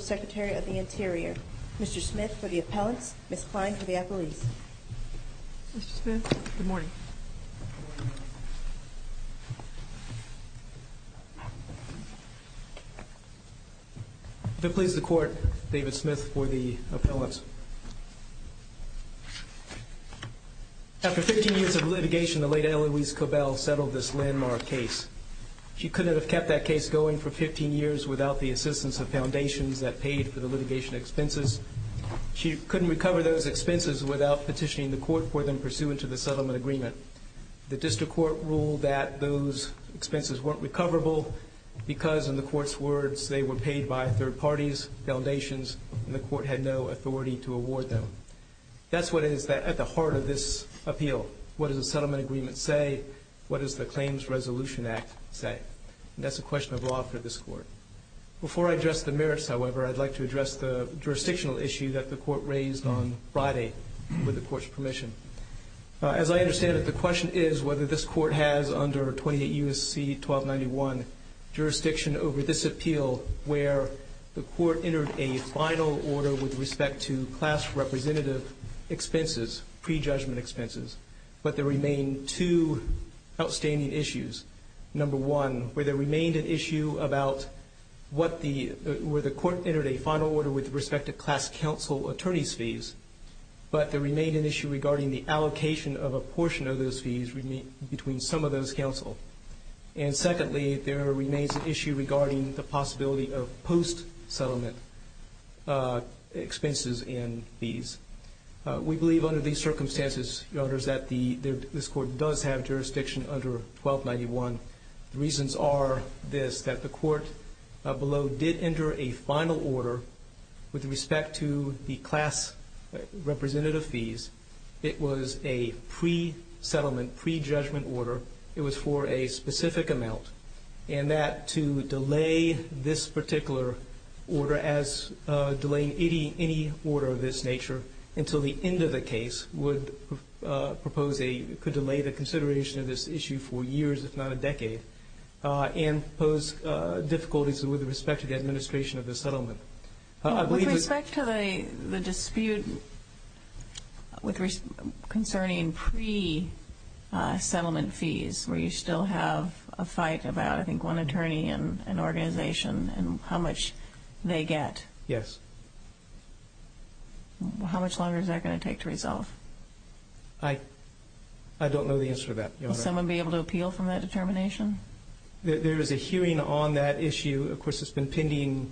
Secretary of the Interior, Mr. Smith for the appellants, Ms. Kline for the appellees. Mr. Smith, good morning. If it pleases the Court, David Smith for the appellants. After three years of litigation, the late Eloise Cobell settled this landmark case. She couldn't have kept that case going for 15 years without the assistance of foundations that paid for the litigation expenses. She couldn't recover those expenses without petitioning the Court for them pursuant to the settlement agreement. The District Court ruled that those expenses weren't recoverable because, in the Court's words, they were paid by third parties, foundations, and the Court had no authority to award them. That's what is at the heart of this appeal. What does the settlement agreement say? What does the Claims Resolution Act say? That's a question of law for this Court. Before I address the merits, however, I'd like to address the jurisdictional issue that the Court raised on Friday with the Court's permission. As I understand it, the question is whether this Court has, under 28 U.S.C. 1291, jurisdiction over this appeal where the Court entered a final order with respect to class representative expenses, pre-judgment expenses, but there remain two outstanding issues. Number one, where there remained an issue about what the — where the Court entered a final order with respect to class counsel attorneys' fees, but there remained an issue regarding the allocation of a portion of those fees between some of those counsel. And secondly, there remains an issue regarding the possibility of post-settlement expenses and fees. We believe under these circumstances, Your Honors, that this Court does have jurisdiction under 1291. The reasons are this, that the Court below did enter a final order with respect to the class representative fees. It was a pre-settlement, pre-judgment order. It was for a specific amount, and that to delay this particular order as delaying any order of this nature until the end of the case would propose a — could delay the consideration of this issue for years, if not a decade, and pose difficulties with respect to the administration of the settlement. With respect to the dispute concerning pre-settlement fees, where you still have a fight about, I think, one attorney, an organization, and how much they get. Yes. How much longer is that going to take to resolve? I don't know the answer to that, Your Honor. Will someone be able to appeal from that determination? There is a hearing on that issue. Of course, it's been pending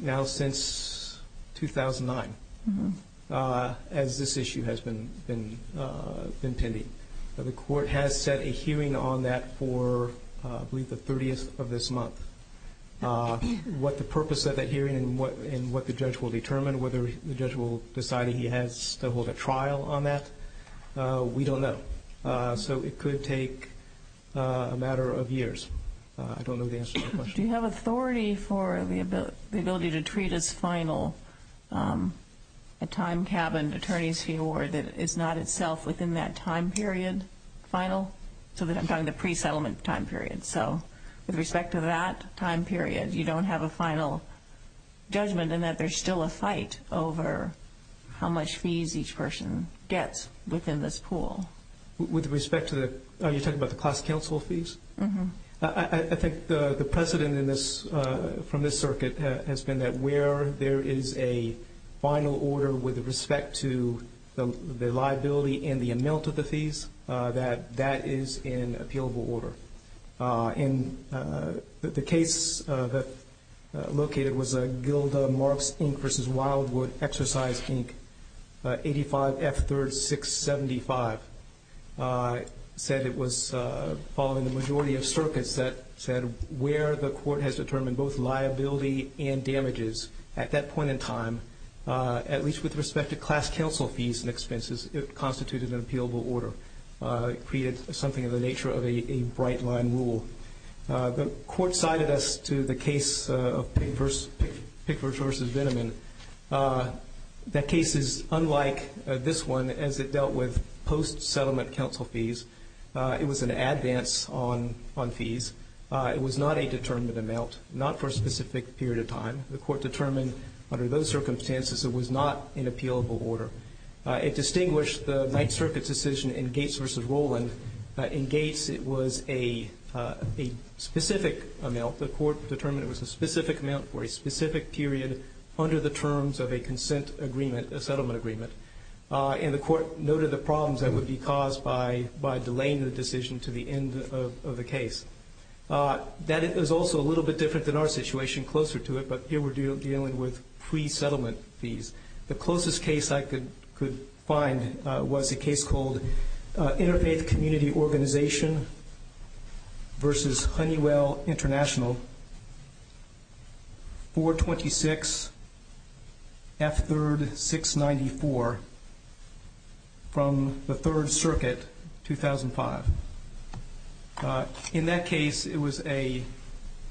now since 2009, as this issue has been pending. But the Court has set a hearing on that for, I believe, the 30th of this month. We don't know. So it could take a matter of years. I don't know the answer to that question. Do you have authority for the ability to treat as final a time-cabined attorney's fee award that is not itself within that time period? Final? So that I'm talking about the pre-settlement time period. So with respect to that time period, you don't have a final judgment in that there's still a fight over how much fees each person gets within this pool. With respect to the – are you talking about the class counsel fees? I think the precedent from this circuit has been that where there is a final order with respect to the liability and the amount of the fees, that that is in appealable order. And the case that located was a Gilda Marks, Inc. v. Wildwood, Exercise, Inc., 85F3-675, said it was following the majority of circuits that said where the Court has determined both liability and damages at that point in time, at least with respect to class counsel fees and expenses, it constituted an appealable order. It created something of the nature of a bright-line rule. The Court cited us to the case of Pickford v. Venneman. That case is unlike this one as it dealt with post-settlement counsel fees. It was an advance on fees. It was not a determined amount, not for a specific period of time. The Court determined under those circumstances it was not an appealable order. It distinguished the Ninth Circuit's decision in Gates v. Rowland. In Gates it was a specific amount. The Court determined it was a specific amount for a specific period under the terms of a consent agreement, a settlement agreement. And the Court noted the problems that would be caused by delaying the decision to the end of the case. That is also a little bit different than our situation, closer to it, but here we're dealing with pre-settlement fees. The closest case I could find was a case called Interfaith Community Organization v. Honeywell International, 426F3-694, from the Third Circuit, 2005. In that case it was a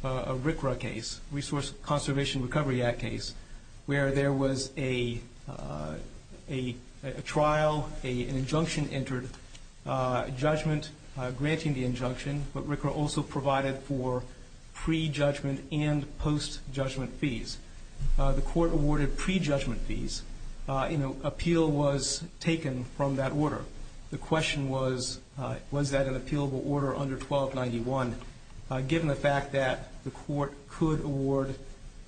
RCRA case, Resource Conservation Recovery Act case, where there was a trial, an injunction entered, judgment granting the injunction, but RCRA also provided for pre-judgment and post-judgment fees. The Court awarded pre-judgment fees. Appeal was taken from that order. The question was, was that an appealable order under 1291, given the fact that the Court could award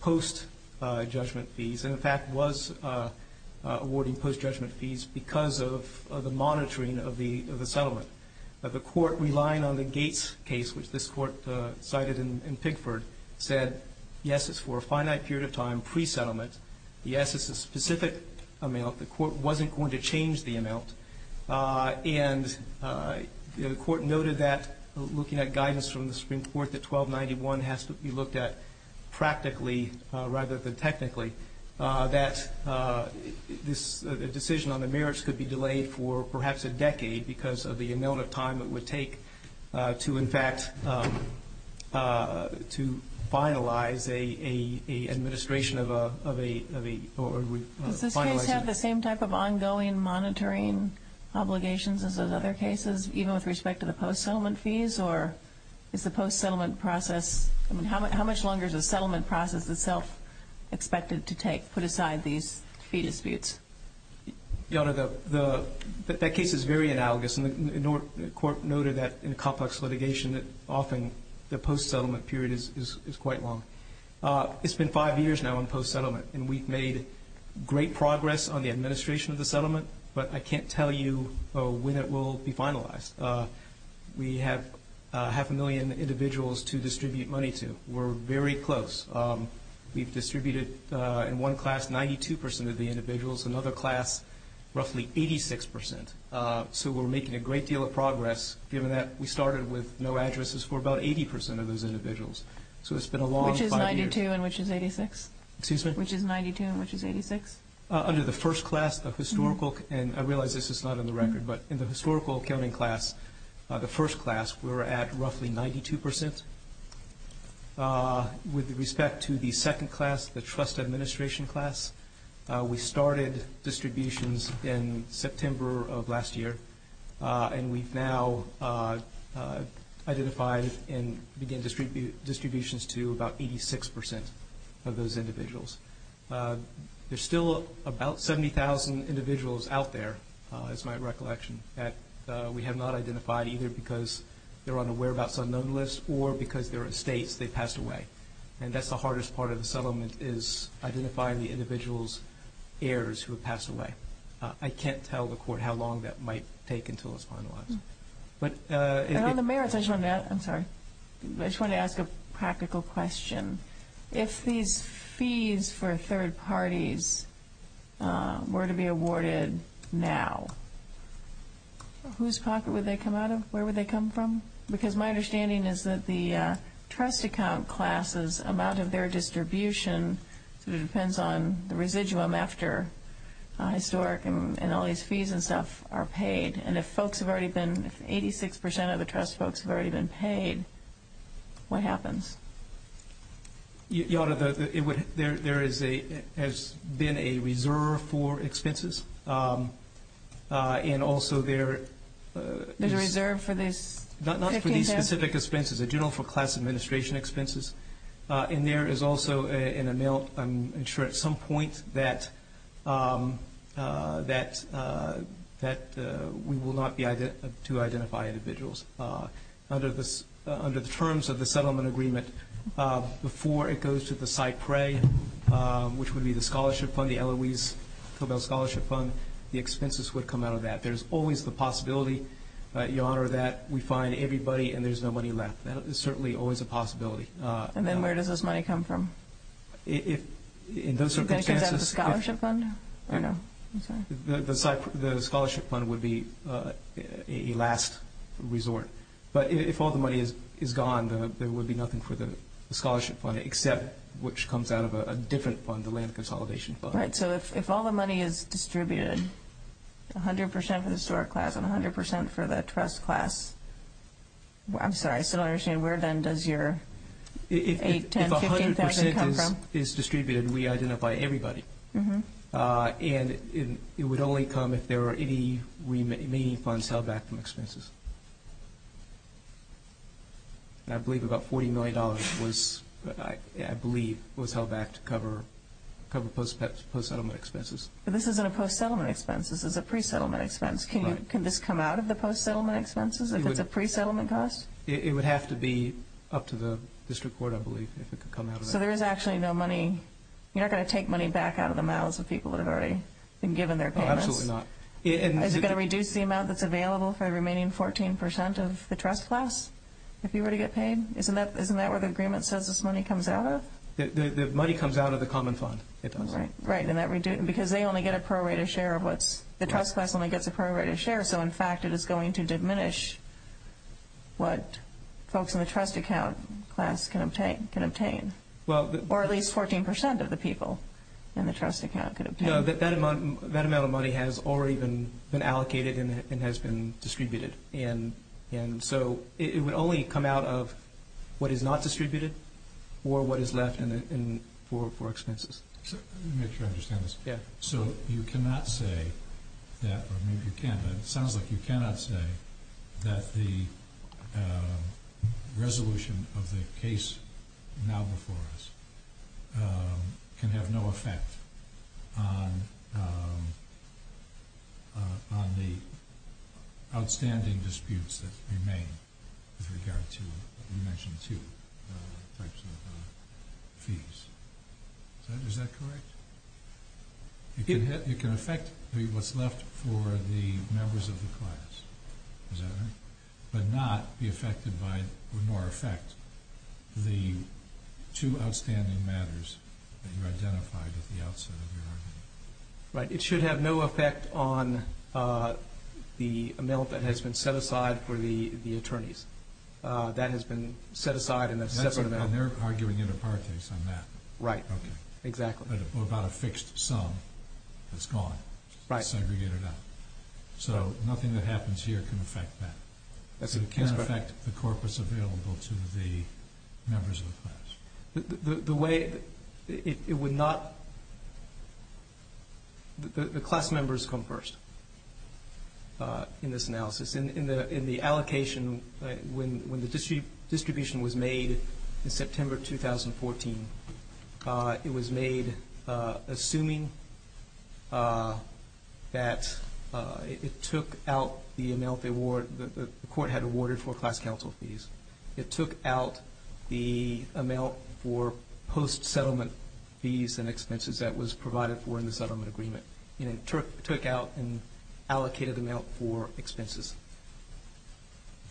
post-judgment fees, and in fact was awarding post-judgment fees because of the monitoring of the settlement. The Court, relying on the Gates case, which this Court cited in Pigford, said, yes, it's for a finite period of time, pre-settlement. Yes, it's a specific amount. The Court wasn't going to change the amount. And the Court noted that, looking at guidance from the Supreme Court, that 1291 has to be looked at practically rather than technically, that this decision on the merits could be delayed for perhaps a decade because of the amount of time it would take to, in fact, to finalize an administration of a Does this case have the same type of ongoing monitoring obligations as those other cases, even with respect to the post-settlement fees? Or is the post-settlement process, I mean, how much longer is the settlement process itself expected to take, put aside these fee disputes? Your Honor, that case is very analogous, and the Court noted that in complex litigation that often the post-settlement period is quite long. It's been five years now in post-settlement, and we've made great progress on the administration of the settlement, but I can't tell you when it will be finalized. We have half a million individuals to distribute money to. We're very close. We've distributed in one class 92 percent of the individuals, another class roughly 86 percent. So we're making a great deal of progress, given that we started with no addresses for about 80 percent of those individuals. So it's been a long five years. Which is 92 and which is 86? Under the first class of historical, and I realize this is not on the record, but in the historical accounting class, the first class, we were at roughly 92 percent. With respect to the second class, the trust administration class, we started distributions in September of last year, and we've now identified and began distributions to about 86 percent of those individuals. There's still about 70,000 individuals out there, as my recollection, that we have not identified, either because they're unaware about some known list or because they're estates, they passed away. And that's the hardest part of the settlement, is identifying the individual's heirs who have passed away. I can't tell the court how long that might take until it's finalized. And on the merits, I just wanted to ask a practical question. If these fees for third parties were to be awarded now, whose pocket would they come out of? Where would they come from? Because my understanding is that the trust account class's amount of their historic and all these fees and stuff are paid, and if folks have already been, if 86 percent of the trust folks have already been paid, what happens? There has been a reserve for expenses, and also there is... There's a reserve for these? Not for these specific expenses, a general for class administration expenses, and there is also an amount, I'm sure at some point, that we will not be able to identify individuals. Under the terms of the settlement agreement, before it goes to the SIPRE, which would be the scholarship fund, the Eloise Philbell Scholarship Fund, the expenses would come out of that. There's always the possibility, Your Honor, that we find everybody and there's no money left. That is certainly always a possibility. And then where does this money come from? The scholarship fund would be a last resort. But if all the money is gone, there would be nothing for the scholarship fund, except which comes out of a different fund, the land consolidation fund. Right, so if all the money is distributed, 100 percent for the store class and 100 percent for the trust class, I'm sorry, I still don't understand, where then does your 8, 10, 15 percent come from? If 100 percent is distributed, we identify everybody. And it would only come if there were any remaining funds held back from expenses. And I believe about $40 million was held back to cover post-settlement expenses. But this isn't a post-settlement expense. This is a pre-settlement expense. Can this come out of the post-settlement expenses if it's a pre-settlement cost? It would have to be up to the district court, I believe, if it could come out of that. So there is actually no money. You're not going to take money back out of the mouths of people that have already been given their payments? No, absolutely not. Is it going to reduce the amount that's available for the remaining 14 percent of the trust class, if you were to get paid? Isn't that where the agreement says this money comes out of? The money comes out of the common fund, it does. Because they only get a prorated share of what's, the trust class only gets a prorated share, so in fact it is going to diminish what folks in the trust account class can obtain. Or at least 14 percent of the people in the trust account could obtain. That amount of money has already been allocated and has been distributed. And so it would only come out of what is not distributed or what is left for expenses. Let me make sure I understand this. So you cannot say that, or maybe you can, but it sounds like you cannot say that the money available for us can have no effect on the outstanding disputes that remain with regard to, you mentioned two types of fees. Is that correct? It can affect what's left for the members of the class, is that right? But not be affected by, nor affect the two outstanding matters that you identified at the outset of your argument. Right. It should have no effect on the amount that has been set aside for the attorneys. That has been set aside in a separate amount. And they're arguing in apartheid on that. Right. Exactly. Or about a fixed sum that's gone. Segregated out. So nothing that happens here can affect that. It can affect the corpus available to the members of the class. The way it would not, the class members come first in this analysis. In the allocation, when the distribution was made in September 2014, it was made assuming that it took out the amount the court had awarded for class counsel fees. It took out the amount for post-settlement fees and expenses that was provided for in the settlement agreement. It took out an allocated amount for expenses.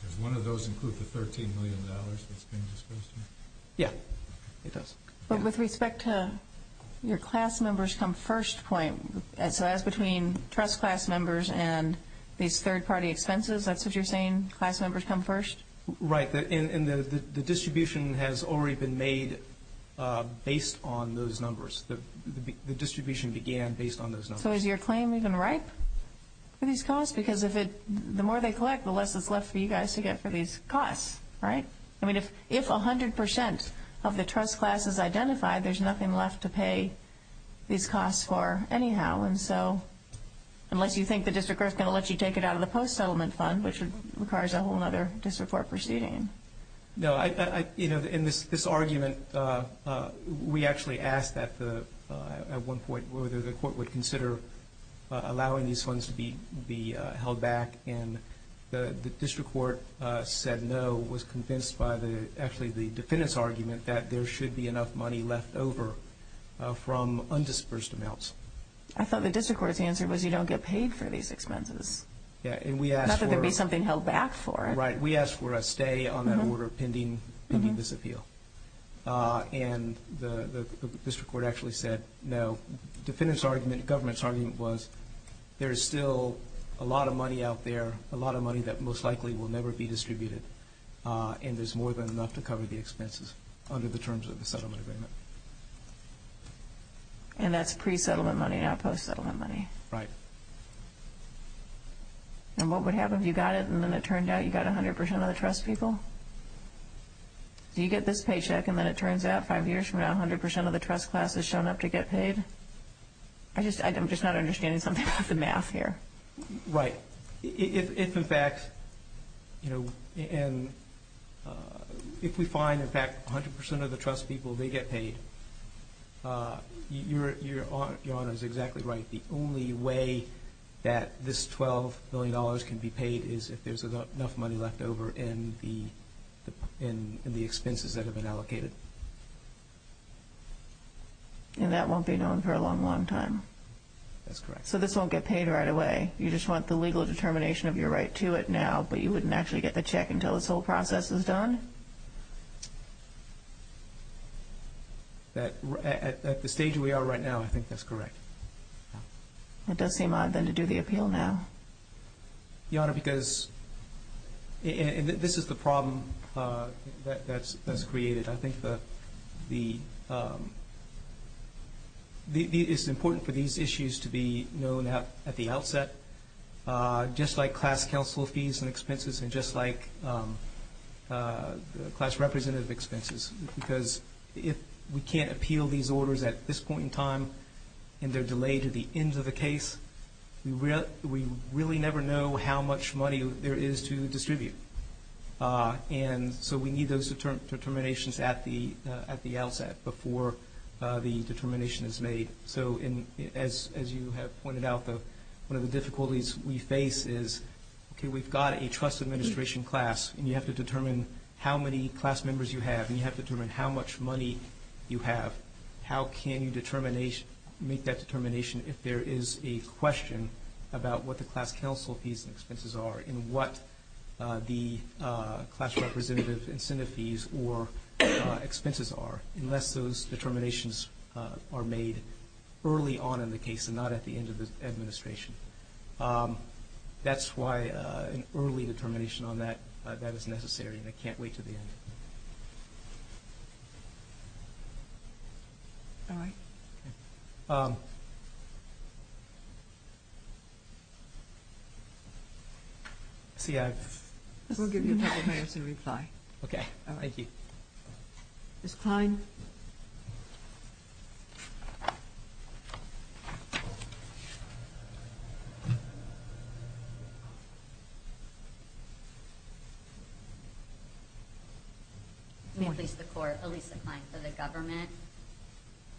Does one of those include the $13 million that's been disposed of? Yeah. It does. But with respect to your class members come first point, so that's between trust class members and these third party expenses? That's what you're saying? Class members come first? Right. And the distribution has already been made based on those numbers. The distribution began based on those numbers. So is your claim even ripe for these costs? Because the more they collect, the less is left for you guys to get for these costs, right? I mean, if 100% of the trust class is identified, there's nothing left to pay these costs for anyhow. Unless you think the district court is going to let you take it out of the post-settlement fund, which would require a whole other district court proceeding. No. In this argument, we actually asked at one point whether the court would consider allowing these funds to be held back. And the district court said no, was convinced by actually the defendant's argument that there should be enough money left over from undisbursed amounts. I thought the district court's answer was you don't get paid for these on that order pending this appeal. And the district court actually said no. The defendant's argument, the government's argument was there is still a lot of money out there, a lot of money that most likely will never be distributed. And there's more than enough to cover the expenses under the terms of the settlement agreement. And that's pre-settlement money, not post-settlement money. Right. And what would happen if you got it and then it turned out you got 100 percent of the trust people? Do you get this paycheck and then it turns out five years from now 100 percent of the trust classes shown up to get paid? I'm just not understanding something about the math here. Right. If in fact, you know, and if we find in fact 100 percent of the trust people, they get paid, your Honor is exactly right. The only way that this $12 million can be paid is if there's enough money left over in the expenses that have been allocated. And that won't be known for a long, long time. That's correct. So this won't get paid right away. You just want the legal determination of your right to it now, but you wouldn't actually get the check until this whole process is done? At the stage we are right now, I think that's correct. It does seem odd then to do the appeal now. Your Honor, because this is the problem that's created. I think the it's important for these issues to be known at the outset, just like class counsel fees and expenses and just like class representative expenses. Because if we can't appeal these orders at this point in time and they're delayed to the end of the case, we really never know how much money there is to distribute. And so we need those determinations at the outset before the determination is made. So as you have pointed out, one of the difficulties we face is we've got a trust administration class and you have to determine how many class members you have and you have to determine how much money you have. How can you make that determination if there is a question about what the class counsel fees and expenses are and what the class representative incentive fees or expenses are, unless those determinations are made early on in the case and not at the end of the administration. That's why an early determination on that is necessary and I can't wait to the end. All right. See I've We'll give you a couple minutes to reply. Okay. Thank you. Ms. Klein. May I please the court. Elisa Klein for the government.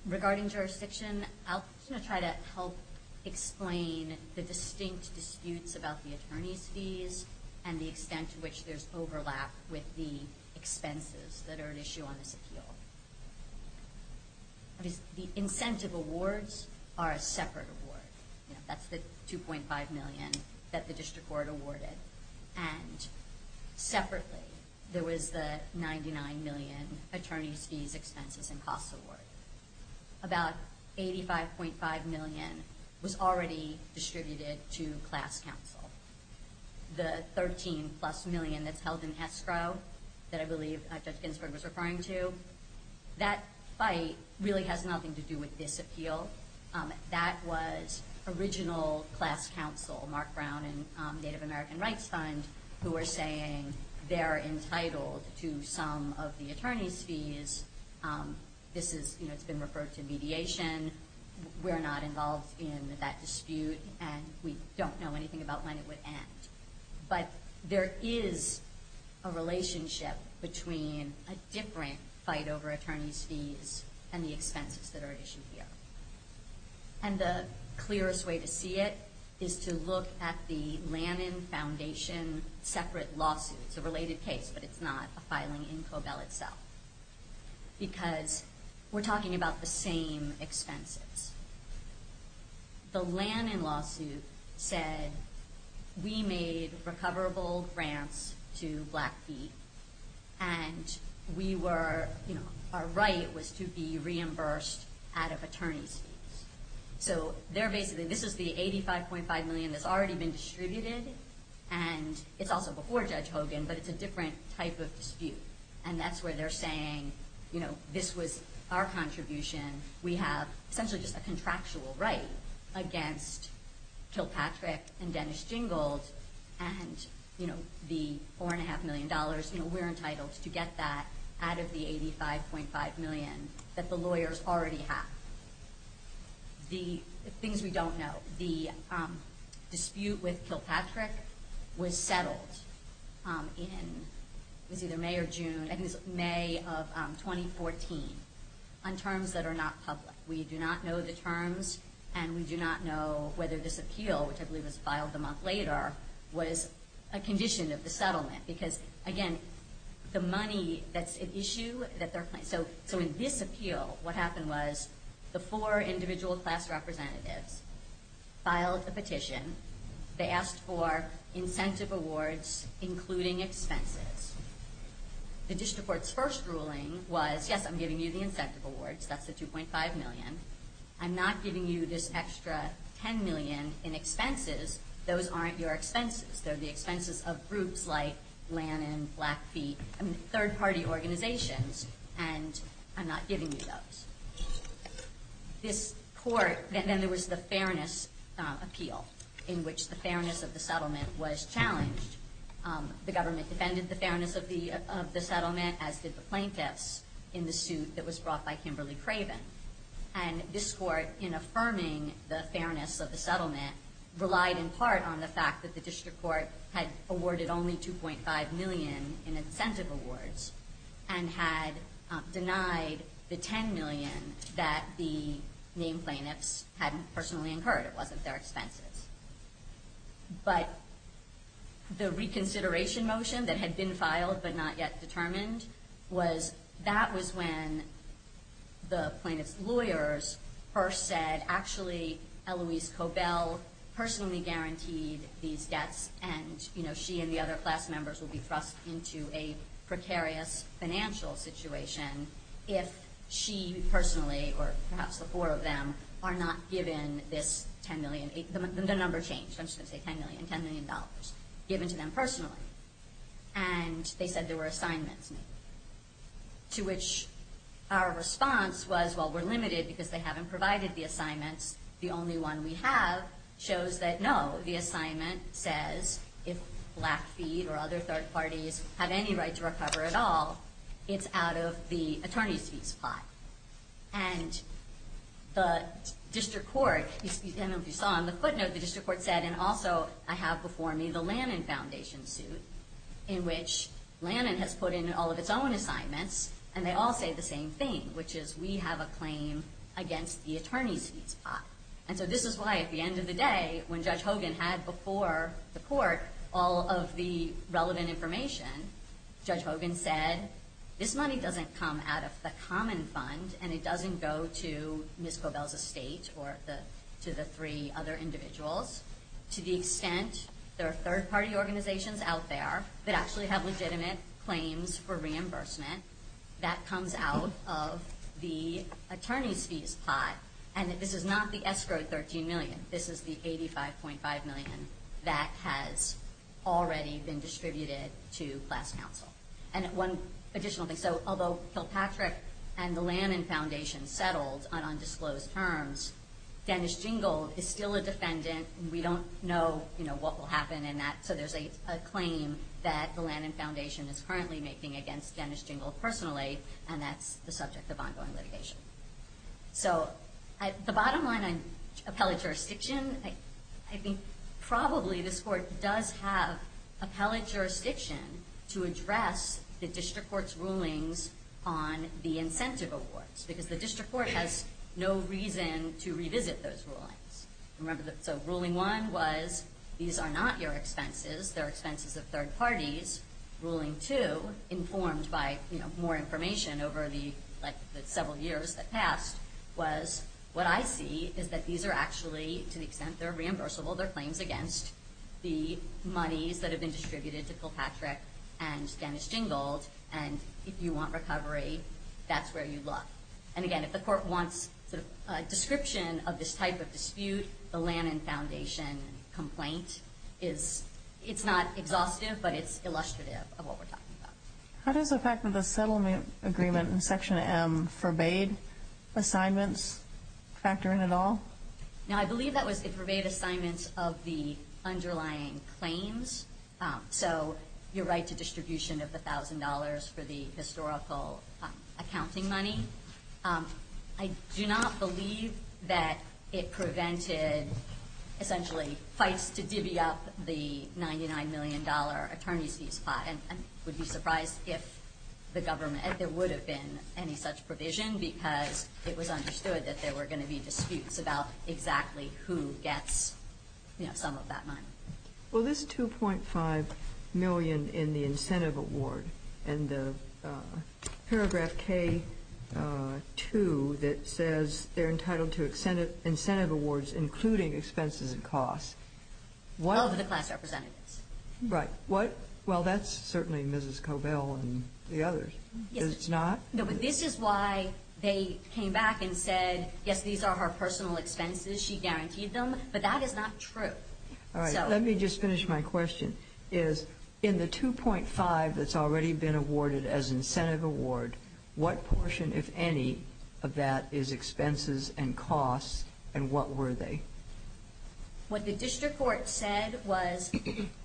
Regarding jurisdiction, I'll try to help explain the distinct disputes about the attorney's fees and the extent to which there's overlap with the expenses that are an issue on this appeal. The incentive awards are a separate award. That's the 2.5 million that the district court awarded and separately there was the 99 million attorney's fees, expenses and costs award. About 85.5 million was already distributed to class counsel. The 13 plus million that's held in escrow that I believe Judge Ginsburg was referring to. That fight really has nothing to do with this appeal. That was original class counsel, Mark Brown and Native American Rights Fund, who were saying they're entitled to some of the attorney's fees. This is, you know, it's been referred to mediation. We're not involved in that dispute and we don't know anything about when it would end. But there is a relationship between a different fight over attorney's fees and the expenses that are an issue here. And the clearest way to see it is to look at the Lannan Foundation separate lawsuit. It's a related case, but it's not a filing in expenses. The Lannan lawsuit said we made recoverable grants to Blackfeet and we were, you know, our right was to be reimbursed out of attorney's fees. So they're basically, this is the 85.5 million that's already been distributed and it's also before Judge Hogan, but it's a different type of dispute. And that's where they're saying, you know, this was our contribution. We have essentially just a contractual right against Kilpatrick and Dennis Jingold and, you know, the four and a half million dollars, you know, we're entitled to get that out of the 85.5 million that the lawyers already have. The things we don't know. The dispute with the Lannan Foundation was filed earlier June, I think it was May of 2014, on terms that are not public. We do not know the terms and we do not know whether this appeal, which I believe was filed a month later, was a condition of the settlement. Because, again, the money that's an issue that they're claiming. So in this appeal, what happened was the four individual class representatives filed a petition. They asked for incentive awards, including expenses. The district court's first ruling was, yes, I'm giving you the incentive awards. That's the 2.5 million. I'm not giving you this extra 10 million in expenses. Those aren't your expenses. They're the expenses of groups like Lannan, Blackfeet, third party organizations, and I'm not giving you those. Then there was the fairness appeal, in which the fairness of the settlement was challenged. The government defended the fairness of the settlement, as did the plaintiffs, in the suit that was brought by Kimberly Craven. And this court, in affirming the fairness of the settlement, relied in part on the fact that the district court had awarded only 2.5 million in that the main plaintiffs had personally incurred. It wasn't their expenses. But the reconsideration motion that had been filed, but not yet determined, that was when the plaintiffs' lawyers first said, actually, Eloise Cobell personally guaranteed these debts, and she and the other class members will be thrust into a precarious financial situation if she personally, or perhaps the four of them, are not given this 10 million. The number changed. I'm just going to say 10 million. $10 million given to them personally. And they said there were assignments made, to which our response was, well, we're limited because they haven't provided the assignments. The only one we have shows that, no, the assignment says if Blackfeet or other third parties have any right to recover at all, it's out of the attorney's fees plot. And the district court, I don't know if you saw on the footnote, the district court said, and also I have before me the Lannan Foundation suit, in which Lannan has put in all of its own assignments, and they all say the same thing, which is we have a claim against the attorney's fees plot. And so this is why at the end of the day, when Judge Hogan had before the court all of the relevant information, Judge Hogan said, this money doesn't come out of the common fund, and it doesn't go to Ms. Cobell's estate or to the three other individuals. To the extent there are third party organizations out there that actually have the attorney's fees plot, and this is not the escrowed 13 million, this is the 85.5 million that has already been distributed to class council. And one additional thing, so although Kilpatrick and the Lannan Foundation settled on undisclosed terms, Dennis Jingle is still a defendant. We don't know what will happen in that, so there's a claim that the Lannan Foundation is currently making against Dennis Jingle personally, and that's the subject of ongoing litigation. So the bottom line on appellate jurisdiction, I think probably this court does have appellate jurisdiction to address the district court's rulings on the incentive awards, because the district court has no reason to revisit those rulings. So ruling one was these are not your expenses, they're expenses of third parties. Ruling two, informed by more information over the several years that passed, was what I see is that these are actually, to the extent they're reimbursable, they're claims against the monies that have been distributed to Kilpatrick and Dennis Jingle, and if you want recovery, that's where you look. And again, if the court wants a description of this type of dispute, the Lannan Foundation complaint is not exhaustive, but it's illustrative of what we're talking about. How does the fact that the settlement agreement in Section M forbade assignments factor in at all? Now, I believe that was it forbade assignments of the underlying claims, so your right to distribution of the thousand dollars for the historical accounting money. I do not believe that it prevented, essentially, fights to divvy up the $99 million attorney's fees. I would be surprised if the government, if there would have been any such provision, because it was understood that there were going to be disputes about exactly who gets some of that money. Well, this $2.5 million in the incentive award and the paragraph K2 that says they're entitled to incentive awards, including expenses and costs. Of the class representatives. Right. Well, that's certainly Mrs. Cobell and the others. It's not? No, but this is why they came back and said, yes, these are her personal expenses. She guaranteed them, but that is not true. Let me just finish my question. In the $2.5 million that's already been awarded as incentive award, what portion, if any, of that is expenses and costs, and what were they? What the district court said was,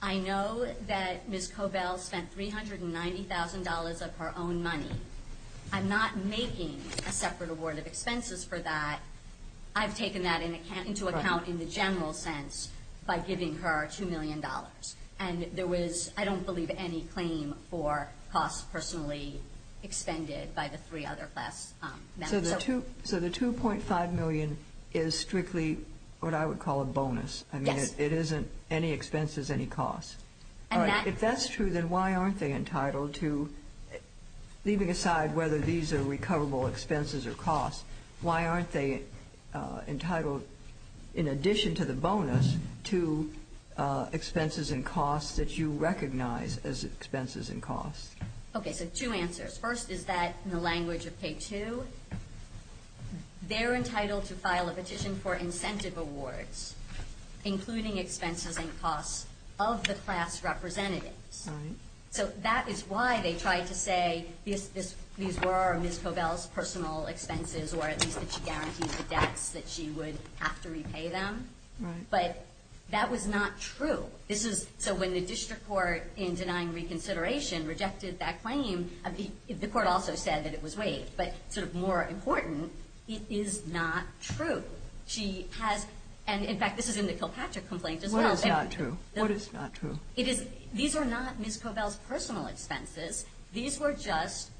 I know that Mrs. Cobell spent $390,000 of her own money. I'm not making a separate award of expenses for that. I've taken that into account in the general sense by giving her $2 million. And there was, I don't believe, any claim for costs personally expended by the three other class members. So the $2.5 million is strictly what I would call a bonus. Yes. I mean, it isn't any entitled to, leaving aside whether these are recoverable expenses or costs, why aren't they entitled, in addition to the bonus, to expenses and costs that you recognize as expenses and costs? Okay, so two answers. First is that, in the language of K2, they're entitled to file a petition for incentive awards, including expenses and costs of the class representatives. So that is why they tried to say these were Mrs. Cobell's personal expenses, or at least that she guaranteed the debts that she would have to repay them. But that was not true. So when the district court, in denying reconsideration, rejected that claim, the court also said that it was waived. But more important, it is not true. She has, and in fact, this is in the Kilpatrick complaint as well. What is not true? What is not true? These are not Mrs. Cobell's personal expenses. These were just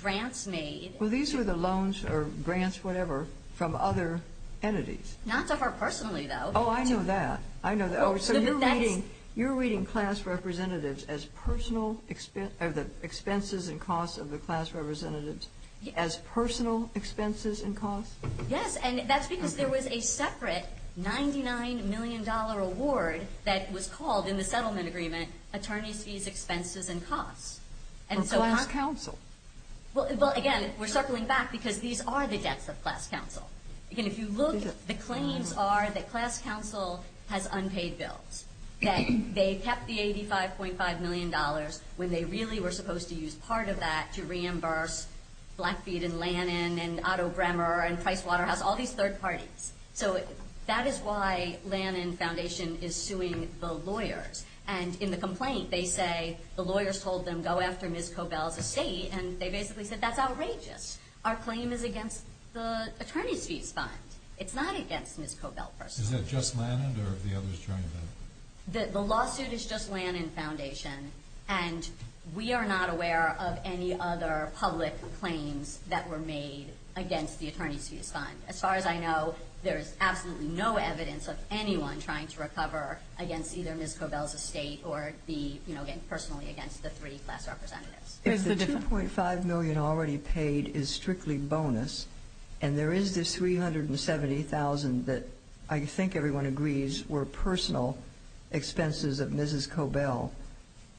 grants made. Well, these were the loans or grants, whatever, from other entities. Not to her personally, though. Oh, I know that. I know that. So you're reading class representatives as personal expenses and costs of the class representatives, as personal expenses and costs? Yes, and that's because there was a separate $99 million award that was called in the settlement agreement, attorneys' fees, expenses, and costs. For class counsel? Well, again, we're circling back because these are the debts of class counsel. Again, if you look, the claims are that class counsel was paid $99.5 million when they really were supposed to use part of that to reimburse Blackfeet and Lannan and Otto Bremer and Pricewaterhouse, all these third parties. So that is why Lannan Foundation is suing the lawyers. And in the complaint, they say the lawyers told them, go after Mrs. Cobell's estate, and they basically said, that's outrageous. Our claim is against the Lannan Foundation, and we are not aware of any other public claims that were made against the attorneys' fees fund. As far as I know, there is absolutely no evidence of anyone trying to recover against either Mrs. Cobell's estate or personally against the three class representatives. The $2.5 million already paid is strictly bonus, and there is this $370,000 that I think everyone agrees were personal expenses of Mrs. Cobell.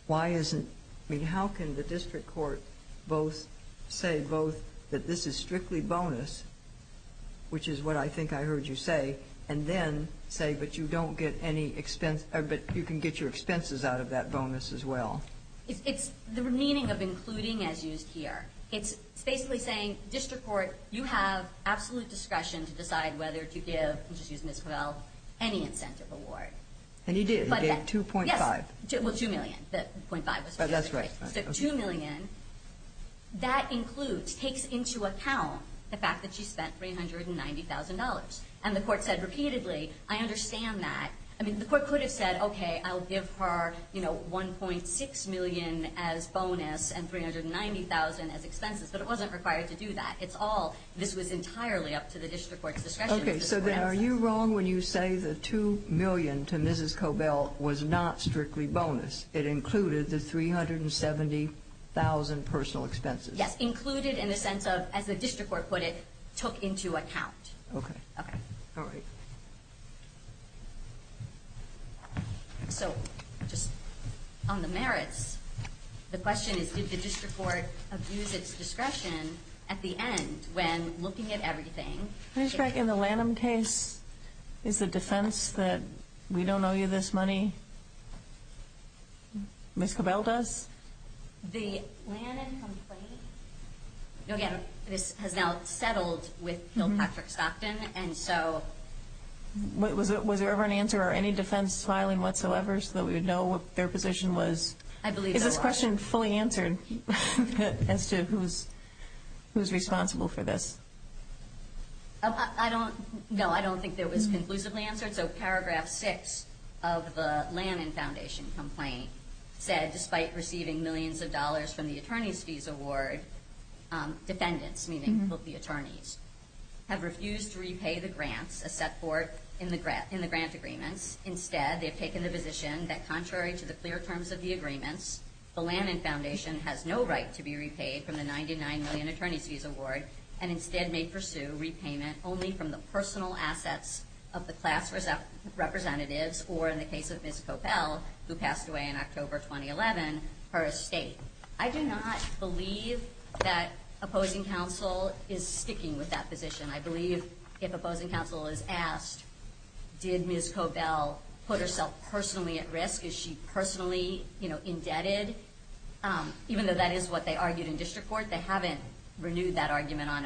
Why isn't, I mean, how can the district court both say both that this is strictly bonus, which is what I think I heard you say, and then say, but you don't get any expense, but you can get your expenses out of that bonus as well? It's the meaning of including as used here. It's basically saying, district court, you have absolute discretion to decide whether to give Mrs. Cobell any incentive award. And you did. You gave $2.5. Well, $2 million. $2 million, that includes, takes into account the fact that she spent $390,000. And the court said repeatedly, I understand that. I mean, the court could have said, okay, I'll give her $1.6 million as bonus and $390,000 as expenses, but it wasn't required to do that. It's all, this was entirely up to the district court's discretion. Okay, so then are you wrong when you say the $2 million to Mrs. Cobell was not strictly bonus? It included the $370,000 personal expenses? Yes, included in the sense of, as the district court put it, took into account. Okay. So, just on the merits, the question is, did the district court abuse its discretion at the end when looking at everything? In the Lanham case, is the defense that we don't owe you this money? Mrs. Cobell does? The Lanham complaint, again, this has now settled with Bill Patrick Stockton, and so... Was there ever an answer or any defense filing whatsoever so that we would know what their position was? I believe there was. Is this question fully answered as to who's responsible for this? I don't, no, I don't think it was conclusively answered, so the Lanham Foundation, despite receiving millions of dollars from the attorney's fees award, defendants, meaning the attorneys, have refused to repay the grants as set forth in the grant agreements. Instead, they've taken the position that contrary to the clear terms of the agreements, the Lanham Foundation has no right to be repaid from the $99 million attorney's fees award, and instead may pursue repayment only from the personal assets of the class representatives, or in the case of Ms. Cobell, who passed away in October 2011, her estate. I do not believe that opposing counsel is sticking with that position. I believe if opposing counsel is asked, did Ms. Cobell put herself personally at risk? Is she personally indebted? Even though that is what they argued in district court, they haven't renewed that report. It would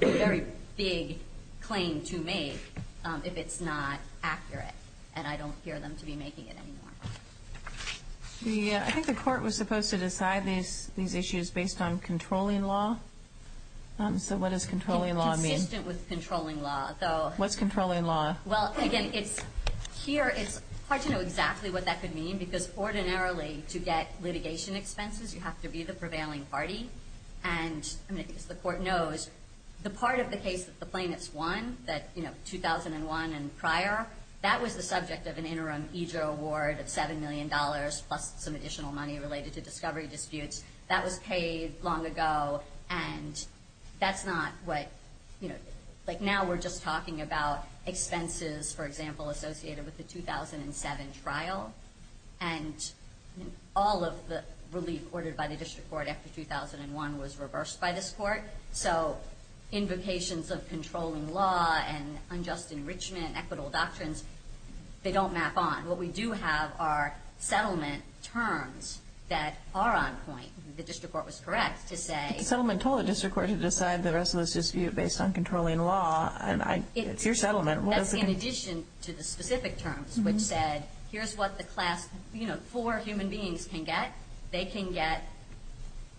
be a very big claim to make if it's not accurate, and I don't hear them to be making it anymore. I think the court was supposed to decide these issues based on controlling law, so what does controlling law mean? Consistent with controlling law, though. What's controlling law? Well, again, here it's hard to know exactly what that could mean, because ordinarily to get to this point, the part of the case that the plaintiffs won, 2001 and prior, that was the subject of an interim EJRA award of $7 million, plus some additional money related to discovery disputes. That was paid long ago, and that's not what... Now we're just talking about expenses, for example, associated with the 2007 trial, and all of the relief ordered by the district court after 2001 was reversed by this court, so invocations of controlling law and unjust enrichment, equitable doctrines, they don't map on. What we do have are settlement terms that are on point. The district court was correct to say... The settlement told the district court to decide the rest of this dispute based on controlling law, and it's your settlement. That's in addition to the specific terms, which said, here's what the class... Four human beings can get. They can get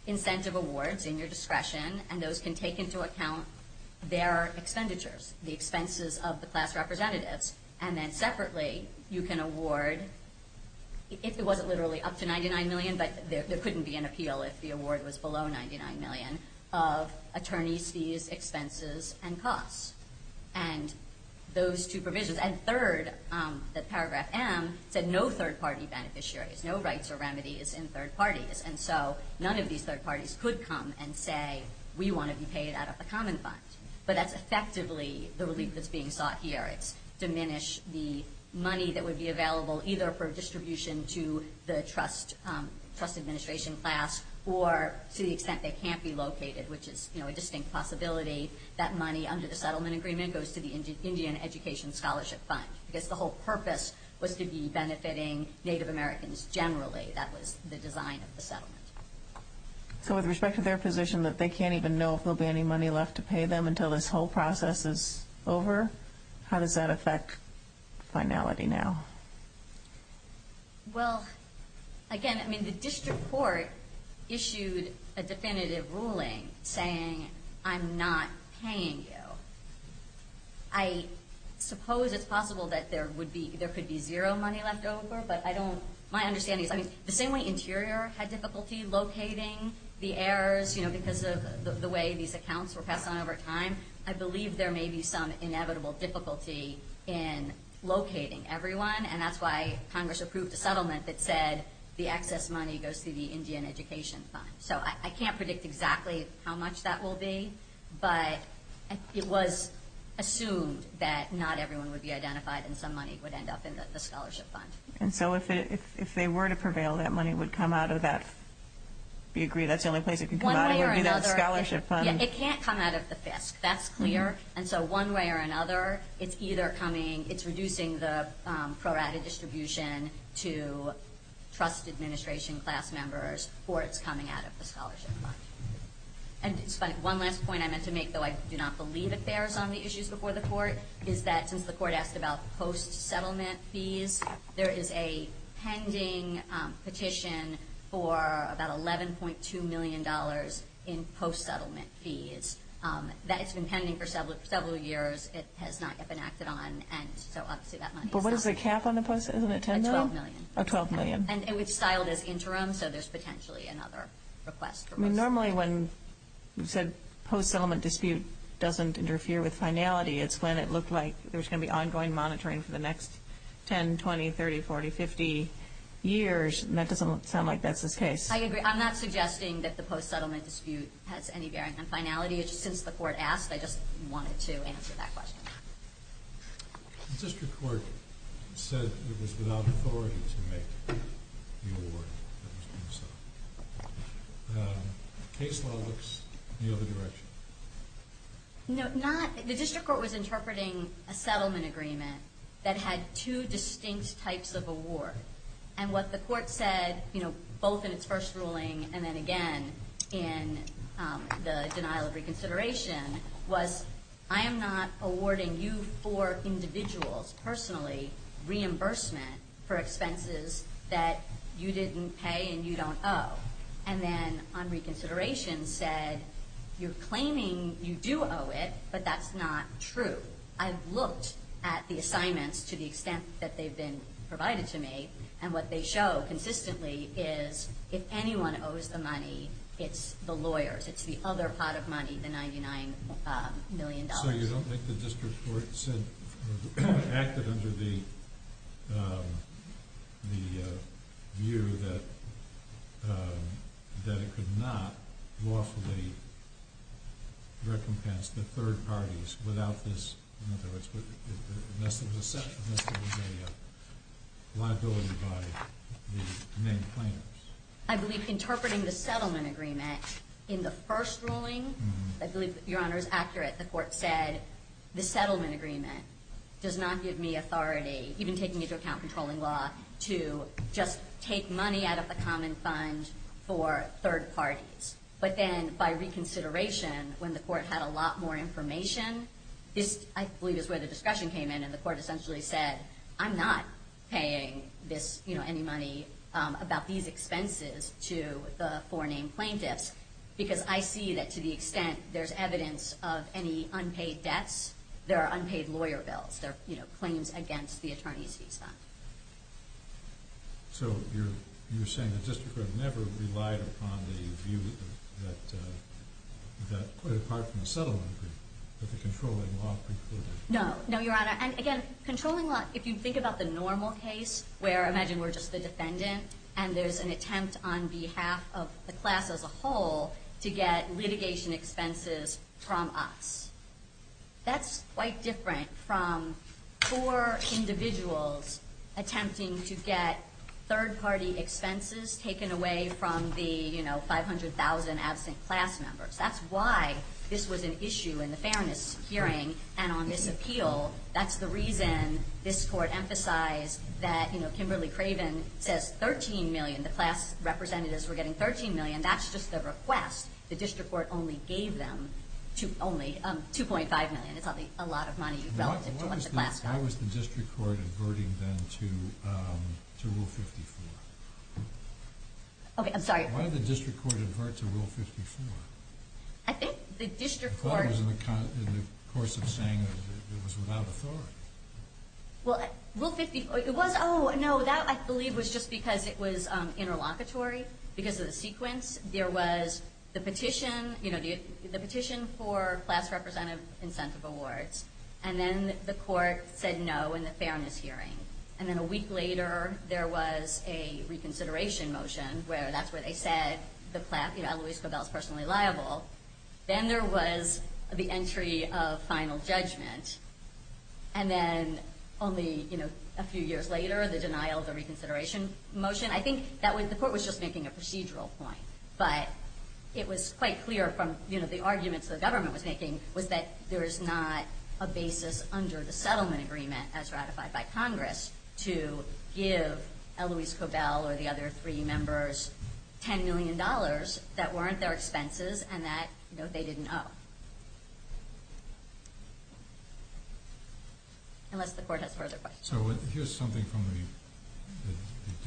incentive awards in your discretion, and those can take into account their expenditures, the expenses of the class representatives, and then separately you can award, if it wasn't literally up to $99 million, but there couldn't be an appeal if the award was below $99 million, of attorney's fees, expenses, and costs, and those two provisions, and third, the paragraph M said no third-party beneficiaries, no rights or remedies in third parties, and so none of these third parties could come and say, we want to be paid out of the common fund, but that's effectively the relief that's being sought here. It's diminish the money that would be available, either for distribution to the trust administration class, or to the extent they can't be located, which is a distinct possibility, that money under the settlement agreement goes to the Indian Education Scholarship Fund, because the whole purpose was to be benefiting Native Americans generally. That was the design of the settlement. So with respect to their position that they can't even know if there will be any money left to pay them until this whole process is over, how does that affect finality now? Well, again, the district court issued a definitive ruling saying, I'm not paying you. I suppose it's possible that there could be zero money left over, but my understanding is, the same way Interior had difficulty locating the heirs, because of the way these accounts were passed on over time, I believe there may be some and that's why Congress approved a settlement that said the excess money goes to the Indian Education Fund. So I can't predict exactly how much that will be, but it was assumed that not everyone would be identified and some money would end up in the scholarship fund. And so if they were to prevail, that money would come out of that scholarship fund? Yeah, it can't come out of the FISC, that's clear. And so one way or another, it's reducing the pro-rata distribution to trust administration class members, or it's coming out of the scholarship fund. And one last point I meant to make, though I do not believe it bears on the issues before the court, is that since the court asked about post-settlement fees, there is a pending petition for about $11.2 million in post-settlement fees. That has been pending for several years. It has not yet been acted on. But what is the cap on the post, isn't it $10 million? $12 million. And it was styled as interim, so there's potentially another request. Normally when you said post-settlement dispute doesn't interfere with finality, it's when it looked like there's going to be ongoing monitoring for the next 10, 20, 30, 40, 50 years. And that doesn't sound like that's the case. I agree. I'm not suggesting that the post-settlement dispute has any bearing on finality. It's just since the court asked, I just wanted to answer that question. The district court said it was without authority to make the award. Case law looks the other direction. The district court was interpreting a settlement agreement that had two distinct types of award. And what the court said, both in its first ruling and then again in the denial of reconsideration, was I am not awarding you four individuals personally reimbursement for expenses that you didn't pay and you don't owe. And then on reconsideration said you're claiming you do owe it, but that's not true. I've looked at the assignments to the extent that they've been provided to me, and what they show consistently is if anyone owes the money, it's the lawyers. It's the other pot of money, the $99 million. So you don't think the district court said or acted under the view that it could not lawfully recompense the third parties without this liability by the main claimants? I believe interpreting the settlement agreement in the first ruling does not give me authority, even taking into account controlling law, to just take money out of the common fund for third parties. But then by reconsideration, when the court had a lot more information, this I believe is where the discussion came in and the court essentially said I'm not paying any money about these expenses to the four named plaintiffs because I see that to the best of my ability. So you're saying the district court never relied upon the view that quite apart from the settlement agreement, that the controlling law precluded it? No, Your Honor. And again, controlling law, if you think about the normal case where imagine we're just the defendant and there's an attempt on behalf of the class as a whole to get litigation expenses from us. That's quite different from four individuals attempting to get third party expenses taken away from the 500,000 absent class members. That's why this was an issue in the fairness hearing and on this appeal. That's the reason this court emphasized that Kimberly Craven says 13 million. That's just the request. The district court only gave them 2.5 million. It's a lot of money relative to what the class got. Why was the district court averting then to Rule 54? Why did the district court avert to Rule 54? I thought it was in the course of saying it was without authority. Well, Rule 54, it was, oh no, that I believe was just because it was interlocutory because of the sequence. There was the petition, the petition for class representative incentive awards and then the court said no in the fairness hearing. And then a week later there was a reconsideration motion where that's where they said the class, you know, Eloise Cobell is personally liable. Then there was the entry of final judgment and then only a few years later the denial of the reconsideration motion. I think the court was just making a procedural point, but it was quite clear from the arguments the government was making was that there is not a basis under the settlement agreement as ratified by Congress to give Eloise Cobell or a class representative incentive award. And that, you know, they didn't know, unless the court has further questions. So here's something from the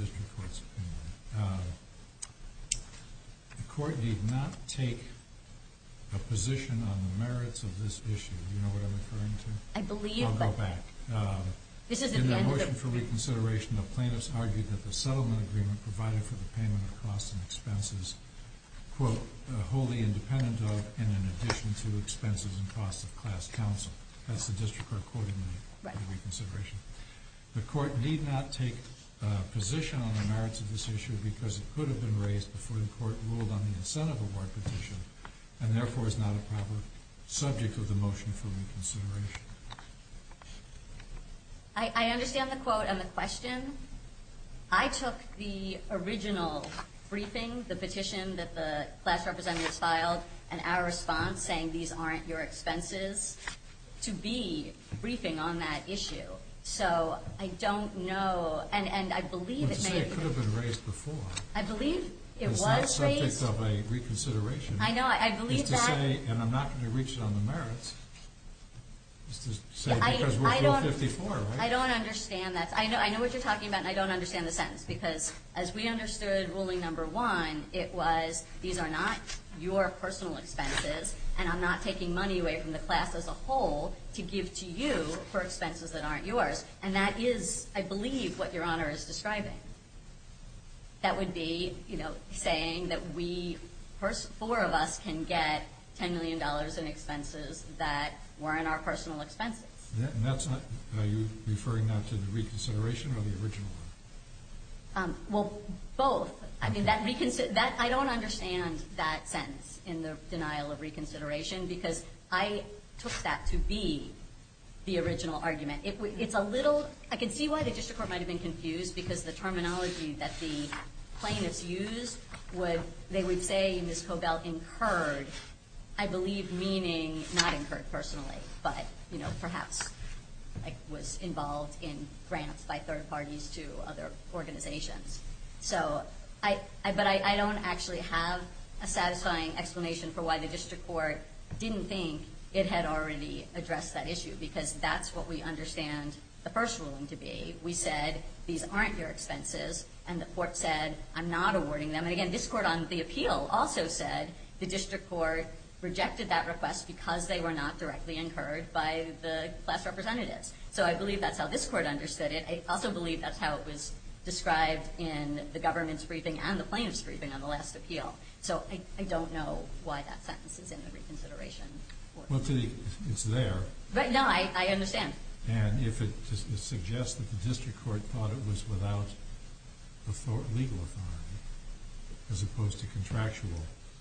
district court's opinion. The court did not take a position on the merits of this issue. Do you know what I'm referring to? I believe. I'll go back. In the motion for reconsideration, the plaintiffs argued that the settlement agreement provided for the payment of costs and expenses, quote, wholly independent of and in addition to expenses and costs of class counsel. That's the district court quote in the reconsideration. The court need not take a position on the merits of this issue because it could have been raised before the court ruled on the incentive award petition and therefore is not a proper subject of the motion for reconsideration. I understand the quote and the question. I took the original briefing, the petition that the class representatives filed and our response saying these aren't your expenses to be briefing on that issue. So I don't know. And I believe it could have been raised before. I believe it was raised. It's not a subject of a reconsideration. I know. I believe that. And I'm not going to reach it on the merits. I don't understand that. I know what you're talking about and I don't understand the sentence because as we understood ruling number one, it was these are not your personal expenses and I'm not taking money away from the class as a whole to give to you for expenses that aren't yours. And that is, I believe, what Your Honor is describing. That would be, you know, saying that we, four of us can get $10 million in expenses that weren't our personal expenses. Are you referring that to the reconsideration or the original? Both. I don't understand that sentence in the denial of I can see why the district court might have been confused because the terminology that the plaintiffs used, they would say Ms. Cobell incurred, I believe meaning, not incurred personally, but perhaps was involved in grants by third parties to other organizations. But I don't actually have a satisfying explanation for why the district court didn't think it had already addressed that issue because that's what we understand the first ruling to be. We said these aren't your expenses and the court said I'm not awarding them. And again, this court on the appeal also said the district court rejected that request because they were not directly incurred by the class representatives. So I believe that's how this court understood it. I also believe that's how it was described in the reconsideration. It's there. No, I understand. And if it suggests that the district court thought it was without legal authority as opposed to contractual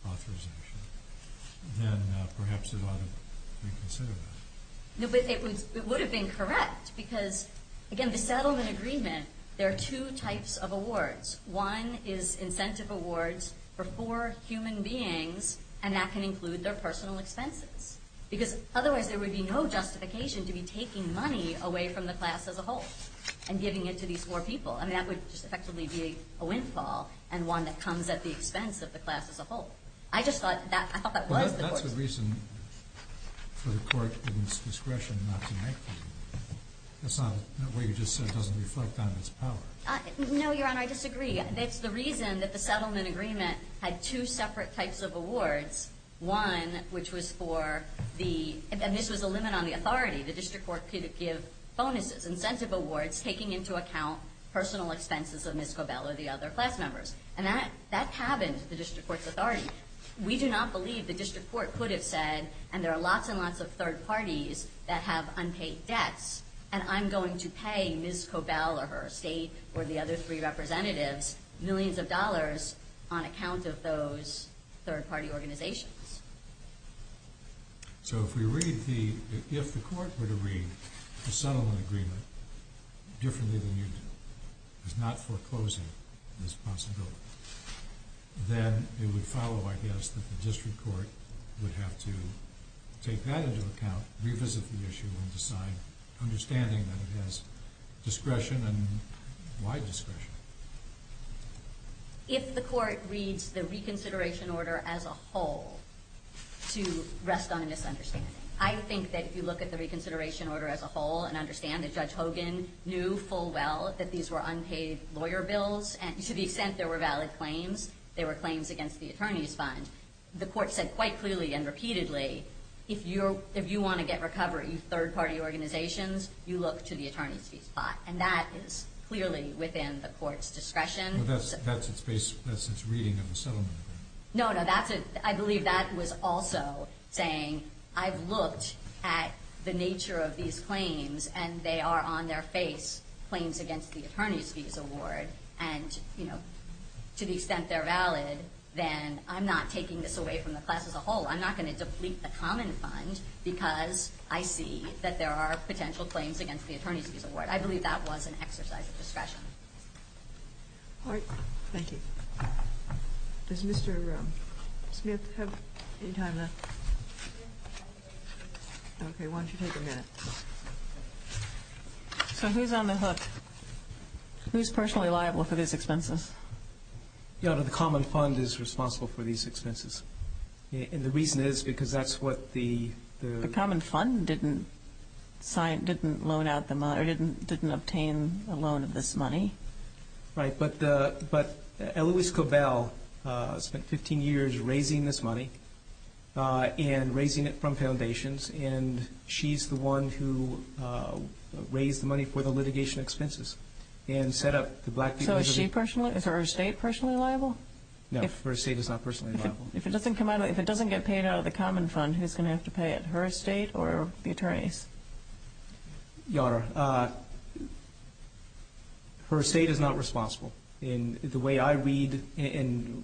authorization, then perhaps it ought to reconsider that. It would have been correct because again, the settlement agreement, there are two types of awards. One is incentive awards for four human beings and that can include their personal expenses because otherwise there would be no justification to be taking money away from the class as a whole and giving it to these four people. I mean, that would just effectively be a windfall and one that comes at the expense of the class as a whole. I just thought that was the reason for the court in its discretion not to make them. That's not what you just said. It doesn't reflect on its power. No, Your Honor, I disagree. It's the reason that the settlement agreement had two separate types of awards. One, which was for the, and this was a limit on the authority. The district court could give bonuses, incentive awards, taking into account personal expenses of Ms. Cobell or the other class members. And that happened to the district court's authority. We do not believe the district court could have said, and there are lots and lots of third parties that have unpaid debts and I'm going to pay Ms. Cobell or her estate or the other three representatives millions of dollars on account of those third party organizations. So if we read the, if the court were to read the settlement agreement differently than you did, it's not foreclosing this possibility. Then it would follow, I guess, that the district court would have to take that into account, revisit the issue and decide understanding that it has discretion and wide discretion. If the court reads the reconsideration order as a whole to rest on a misunderstanding. I think that if you look at the reconsideration order as a whole and understand that Judge Hogan knew full well that these were unpaid lawyer bills and to the extent there were valid claims, they were claims against the attorney's fund. The court said quite clearly and repeatedly, if you want to get recovery, third party organizations, you look to the attorney's fees plot. And that is clearly within the court's discretion. That's its reading of the settlement agreement. No, no, that's a, I believe that was also saying I've looked at the nature of these claims and they are on their face, claims against the attorney's fees award. And to the extent they're valid, then I'm not taking this away from the class as a whole. I'm not going to deplete the common fund because I see that there are potential claims against the attorney's fees award. I believe that was an exercise of discretion. All right. Thank you. Does Mr. Smith have any time left? Okay. Why don't you take a minute? So who's on the hook? Who's personally liable for these expenses? The common fund is responsible for these expenses. And the reason is because that's what the common fund didn't sign, didn't loan out the money or didn't, didn't obtain a loan of this money. Right. But, uh, but Eloise Cobell, uh, spent 15 years raising this money, uh, and raising it from foundations. And she's the one who, uh, raised the money for the litigation expenses and set up the black. So is she personally, is her estate personally liable? No, her estate is not personally liable. If it doesn't come out, if it doesn't get paid out of the common fund, who's going to have to pay it, her estate or the attorneys? Your Honor, uh, her estate is not responsible in the way I read. And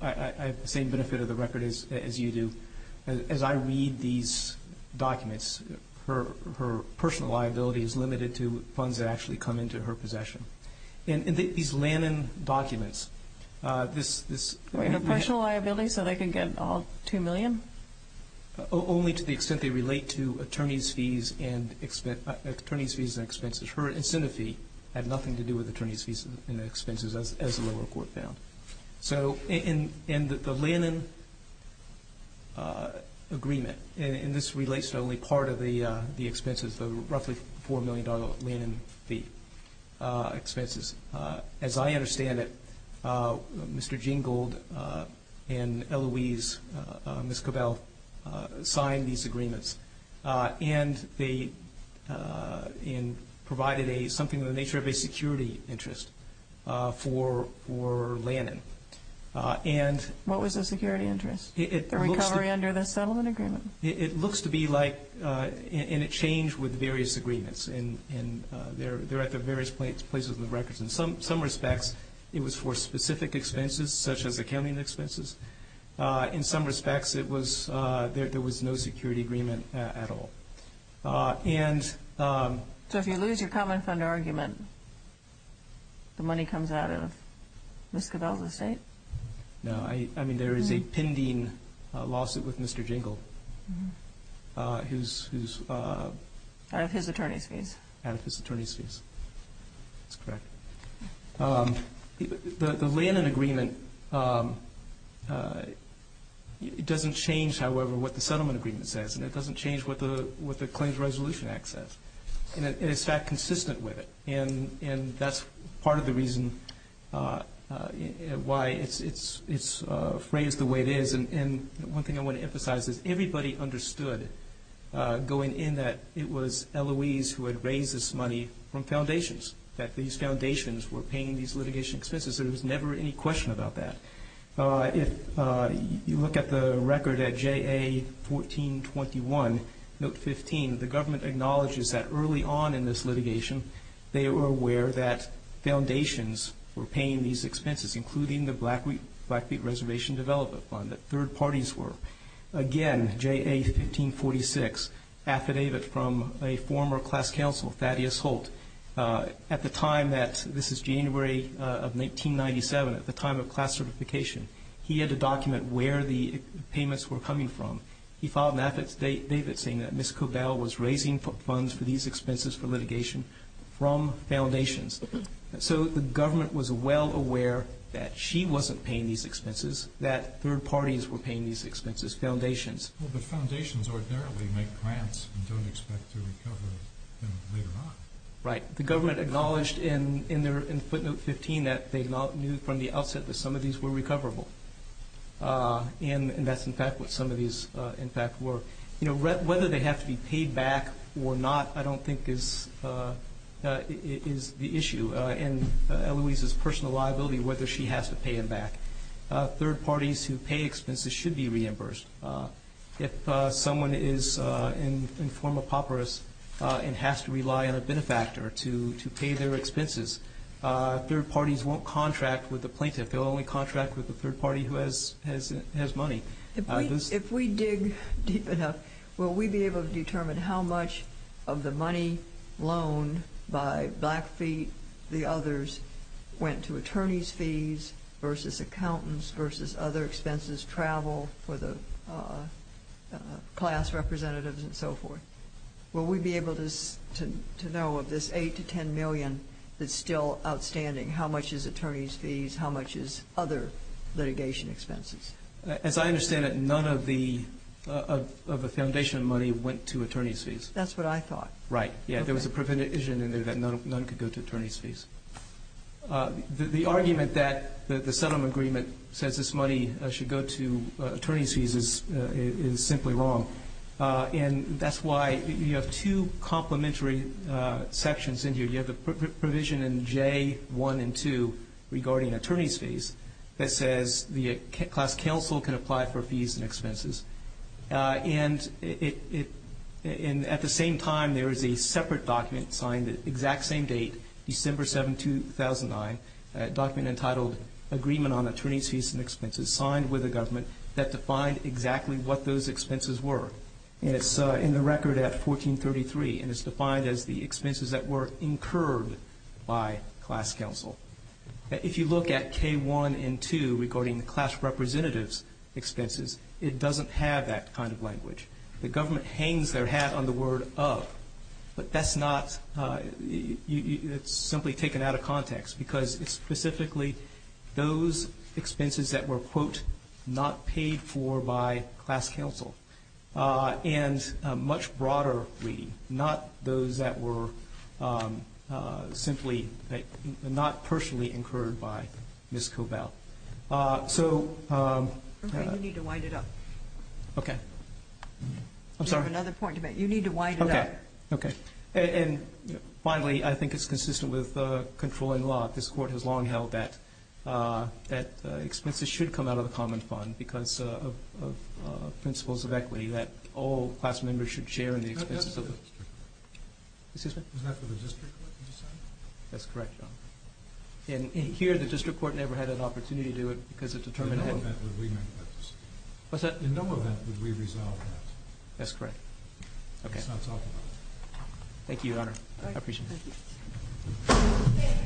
I have the same benefit of the record as, as you do. As I read these documents, her, her personal liability is limited to funds that actually come into her possession. And these Lannan documents, uh, this, this... Her personal liability so they can get all 2 million? Only to the extent they relate to attorney's fees and expense, attorney's fees and expenses. Her incentive fee had nothing to do with attorney's fees and expenses as, as the lower court found. So in, in the Lannan, uh, agreement, and this relates to only part of the, uh, the expenses, the roughly $4 million Lannan fee, uh, expenses. Uh, as I understand it, uh, Mr. Jingold, uh, and Eloise, uh, uh, Ms. Cobell, uh, signed these agreements, uh, and they, uh, and provided a, something of the nature of a security interest, uh, for, for Lannan. Uh, and... And it changed with various agreements, and, and, uh, they're, they're at the various places in the records. In some, some respects, it was for specific expenses, such as accounting expenses. Uh, in some respects, it was, uh, there, there was no security agreement, uh, at all. Uh, and, um... So if you lose your common fund argument, the money comes out of Ms. Cobell's estate? No, I, I mean, there is a out of his attorney's fees. Out of his attorney's fees. That's correct. Um, the, the Lannan agreement, um, uh, it doesn't change, however, what the settlement agreement says, and it doesn't change what the, what the Claims Resolution Act says. And it's, in fact, consistent with it. And, and that's part of the reason, uh, uh, why it's, it's, it's, uh, phrased the way it is. And, and one thing I want to emphasize is everybody understood, uh, going in that it was Eloise who had raised this money from foundations, that these foundations were paying these litigation expenses. There was never any question about that. Uh, if, uh, you look at the record at JA 1421, note 15, the government acknowledges that early on in this litigation, they were aware that foundations were Again, JA 1546, affidavit from a former class counsel, Thaddeus Holt. Uh, at the time that, this is January, uh, of 1997, at the time of class certification, he had to document where the payments were coming from. He filed an affidavit saying that Ms. Cobell was raising funds for these expenses for litigation from foundations. So the government was Well, but foundations ordinarily make grants and don't expect to recover them later on. Right. The government acknowledged in, in their, in footnote 15 that they knew from the outset that some of these were recoverable. Uh, and, and that's in fact what some of these, uh, in fact were. You know, whether they have to be paid back or not, I don't think is, uh, uh, is the issue. Uh, and, uh, Eloise's personal liability, whether she has to pay him back. Uh, third parties who pay expenses should be reimbursed. Uh, if, uh, someone is, uh, in, in form of papyrus, uh, and has to rely on a benefactor to, to pay their expenses, uh, third parties won't contract with the plaintiff. They'll only contract with the third party who has, has, has money. If we dig deep enough, will we be able to determine how much of the money loaned by Blackfeet, the others, went to attorney's fees versus accountants versus other expenses, travel for the, uh, class representatives and so forth? Will we be able to, to, to know of this 8 to 10 million that's still outstanding, how much is attorney's fees, how much is other litigation expenses? As I understand it, none of the, of the foundation money went to attorney's fees. That's what I thought. Right. Yeah. There was a provision in there that none, none could go to attorney's fees. Uh, the, the argument that the, the settlement agreement says this money should go to, uh, attorney's fees is, is simply wrong. Uh, and that's why you have two complementary, uh, sections in here. You have the provision in J1 and 2 regarding attorney's fees that says the class counsel can apply for fees and expenses. Uh, and it, it, and at the same time there is a separate document signed the exact same date, December 7, 2009, a document entitled agreement on attorney's fees and expenses signed with the government that defined exactly what those expenses were. And it's, uh, in the record at 1433 and it's defined as the expenses that were incurred by class counsel. If you look at K1 and 2 regarding the class representative's expenses, it doesn't have that kind of language. The government hangs their hat on the word of, but that's not, uh, you, it's simply taken out of context because it's specifically those expenses that were quote, not paid for by class counsel. Uh, and a much broader reading, not those that were, um, uh, simply not personally incurred by Ms. Covell. Uh, so, um. Okay. You need to wind it up. Okay. I'm sorry. You have another point to make. You need to wind it up. Okay. Okay. And finally, I think it's consistent with, uh, controlling law. This court has long held that, uh, expenses should come out of the common fund because, uh, of, uh, principles of equity that all class members should share in the expenses of the district court. Was that for the district court that you said? That's correct, Your Honor. And here the district court never had an opportunity to do it because it determined that. In no event would we make that decision. What's that? In no event would we resolve that. That's correct. Okay. Let's not talk about it. Thank you, Your Honor. I appreciate it.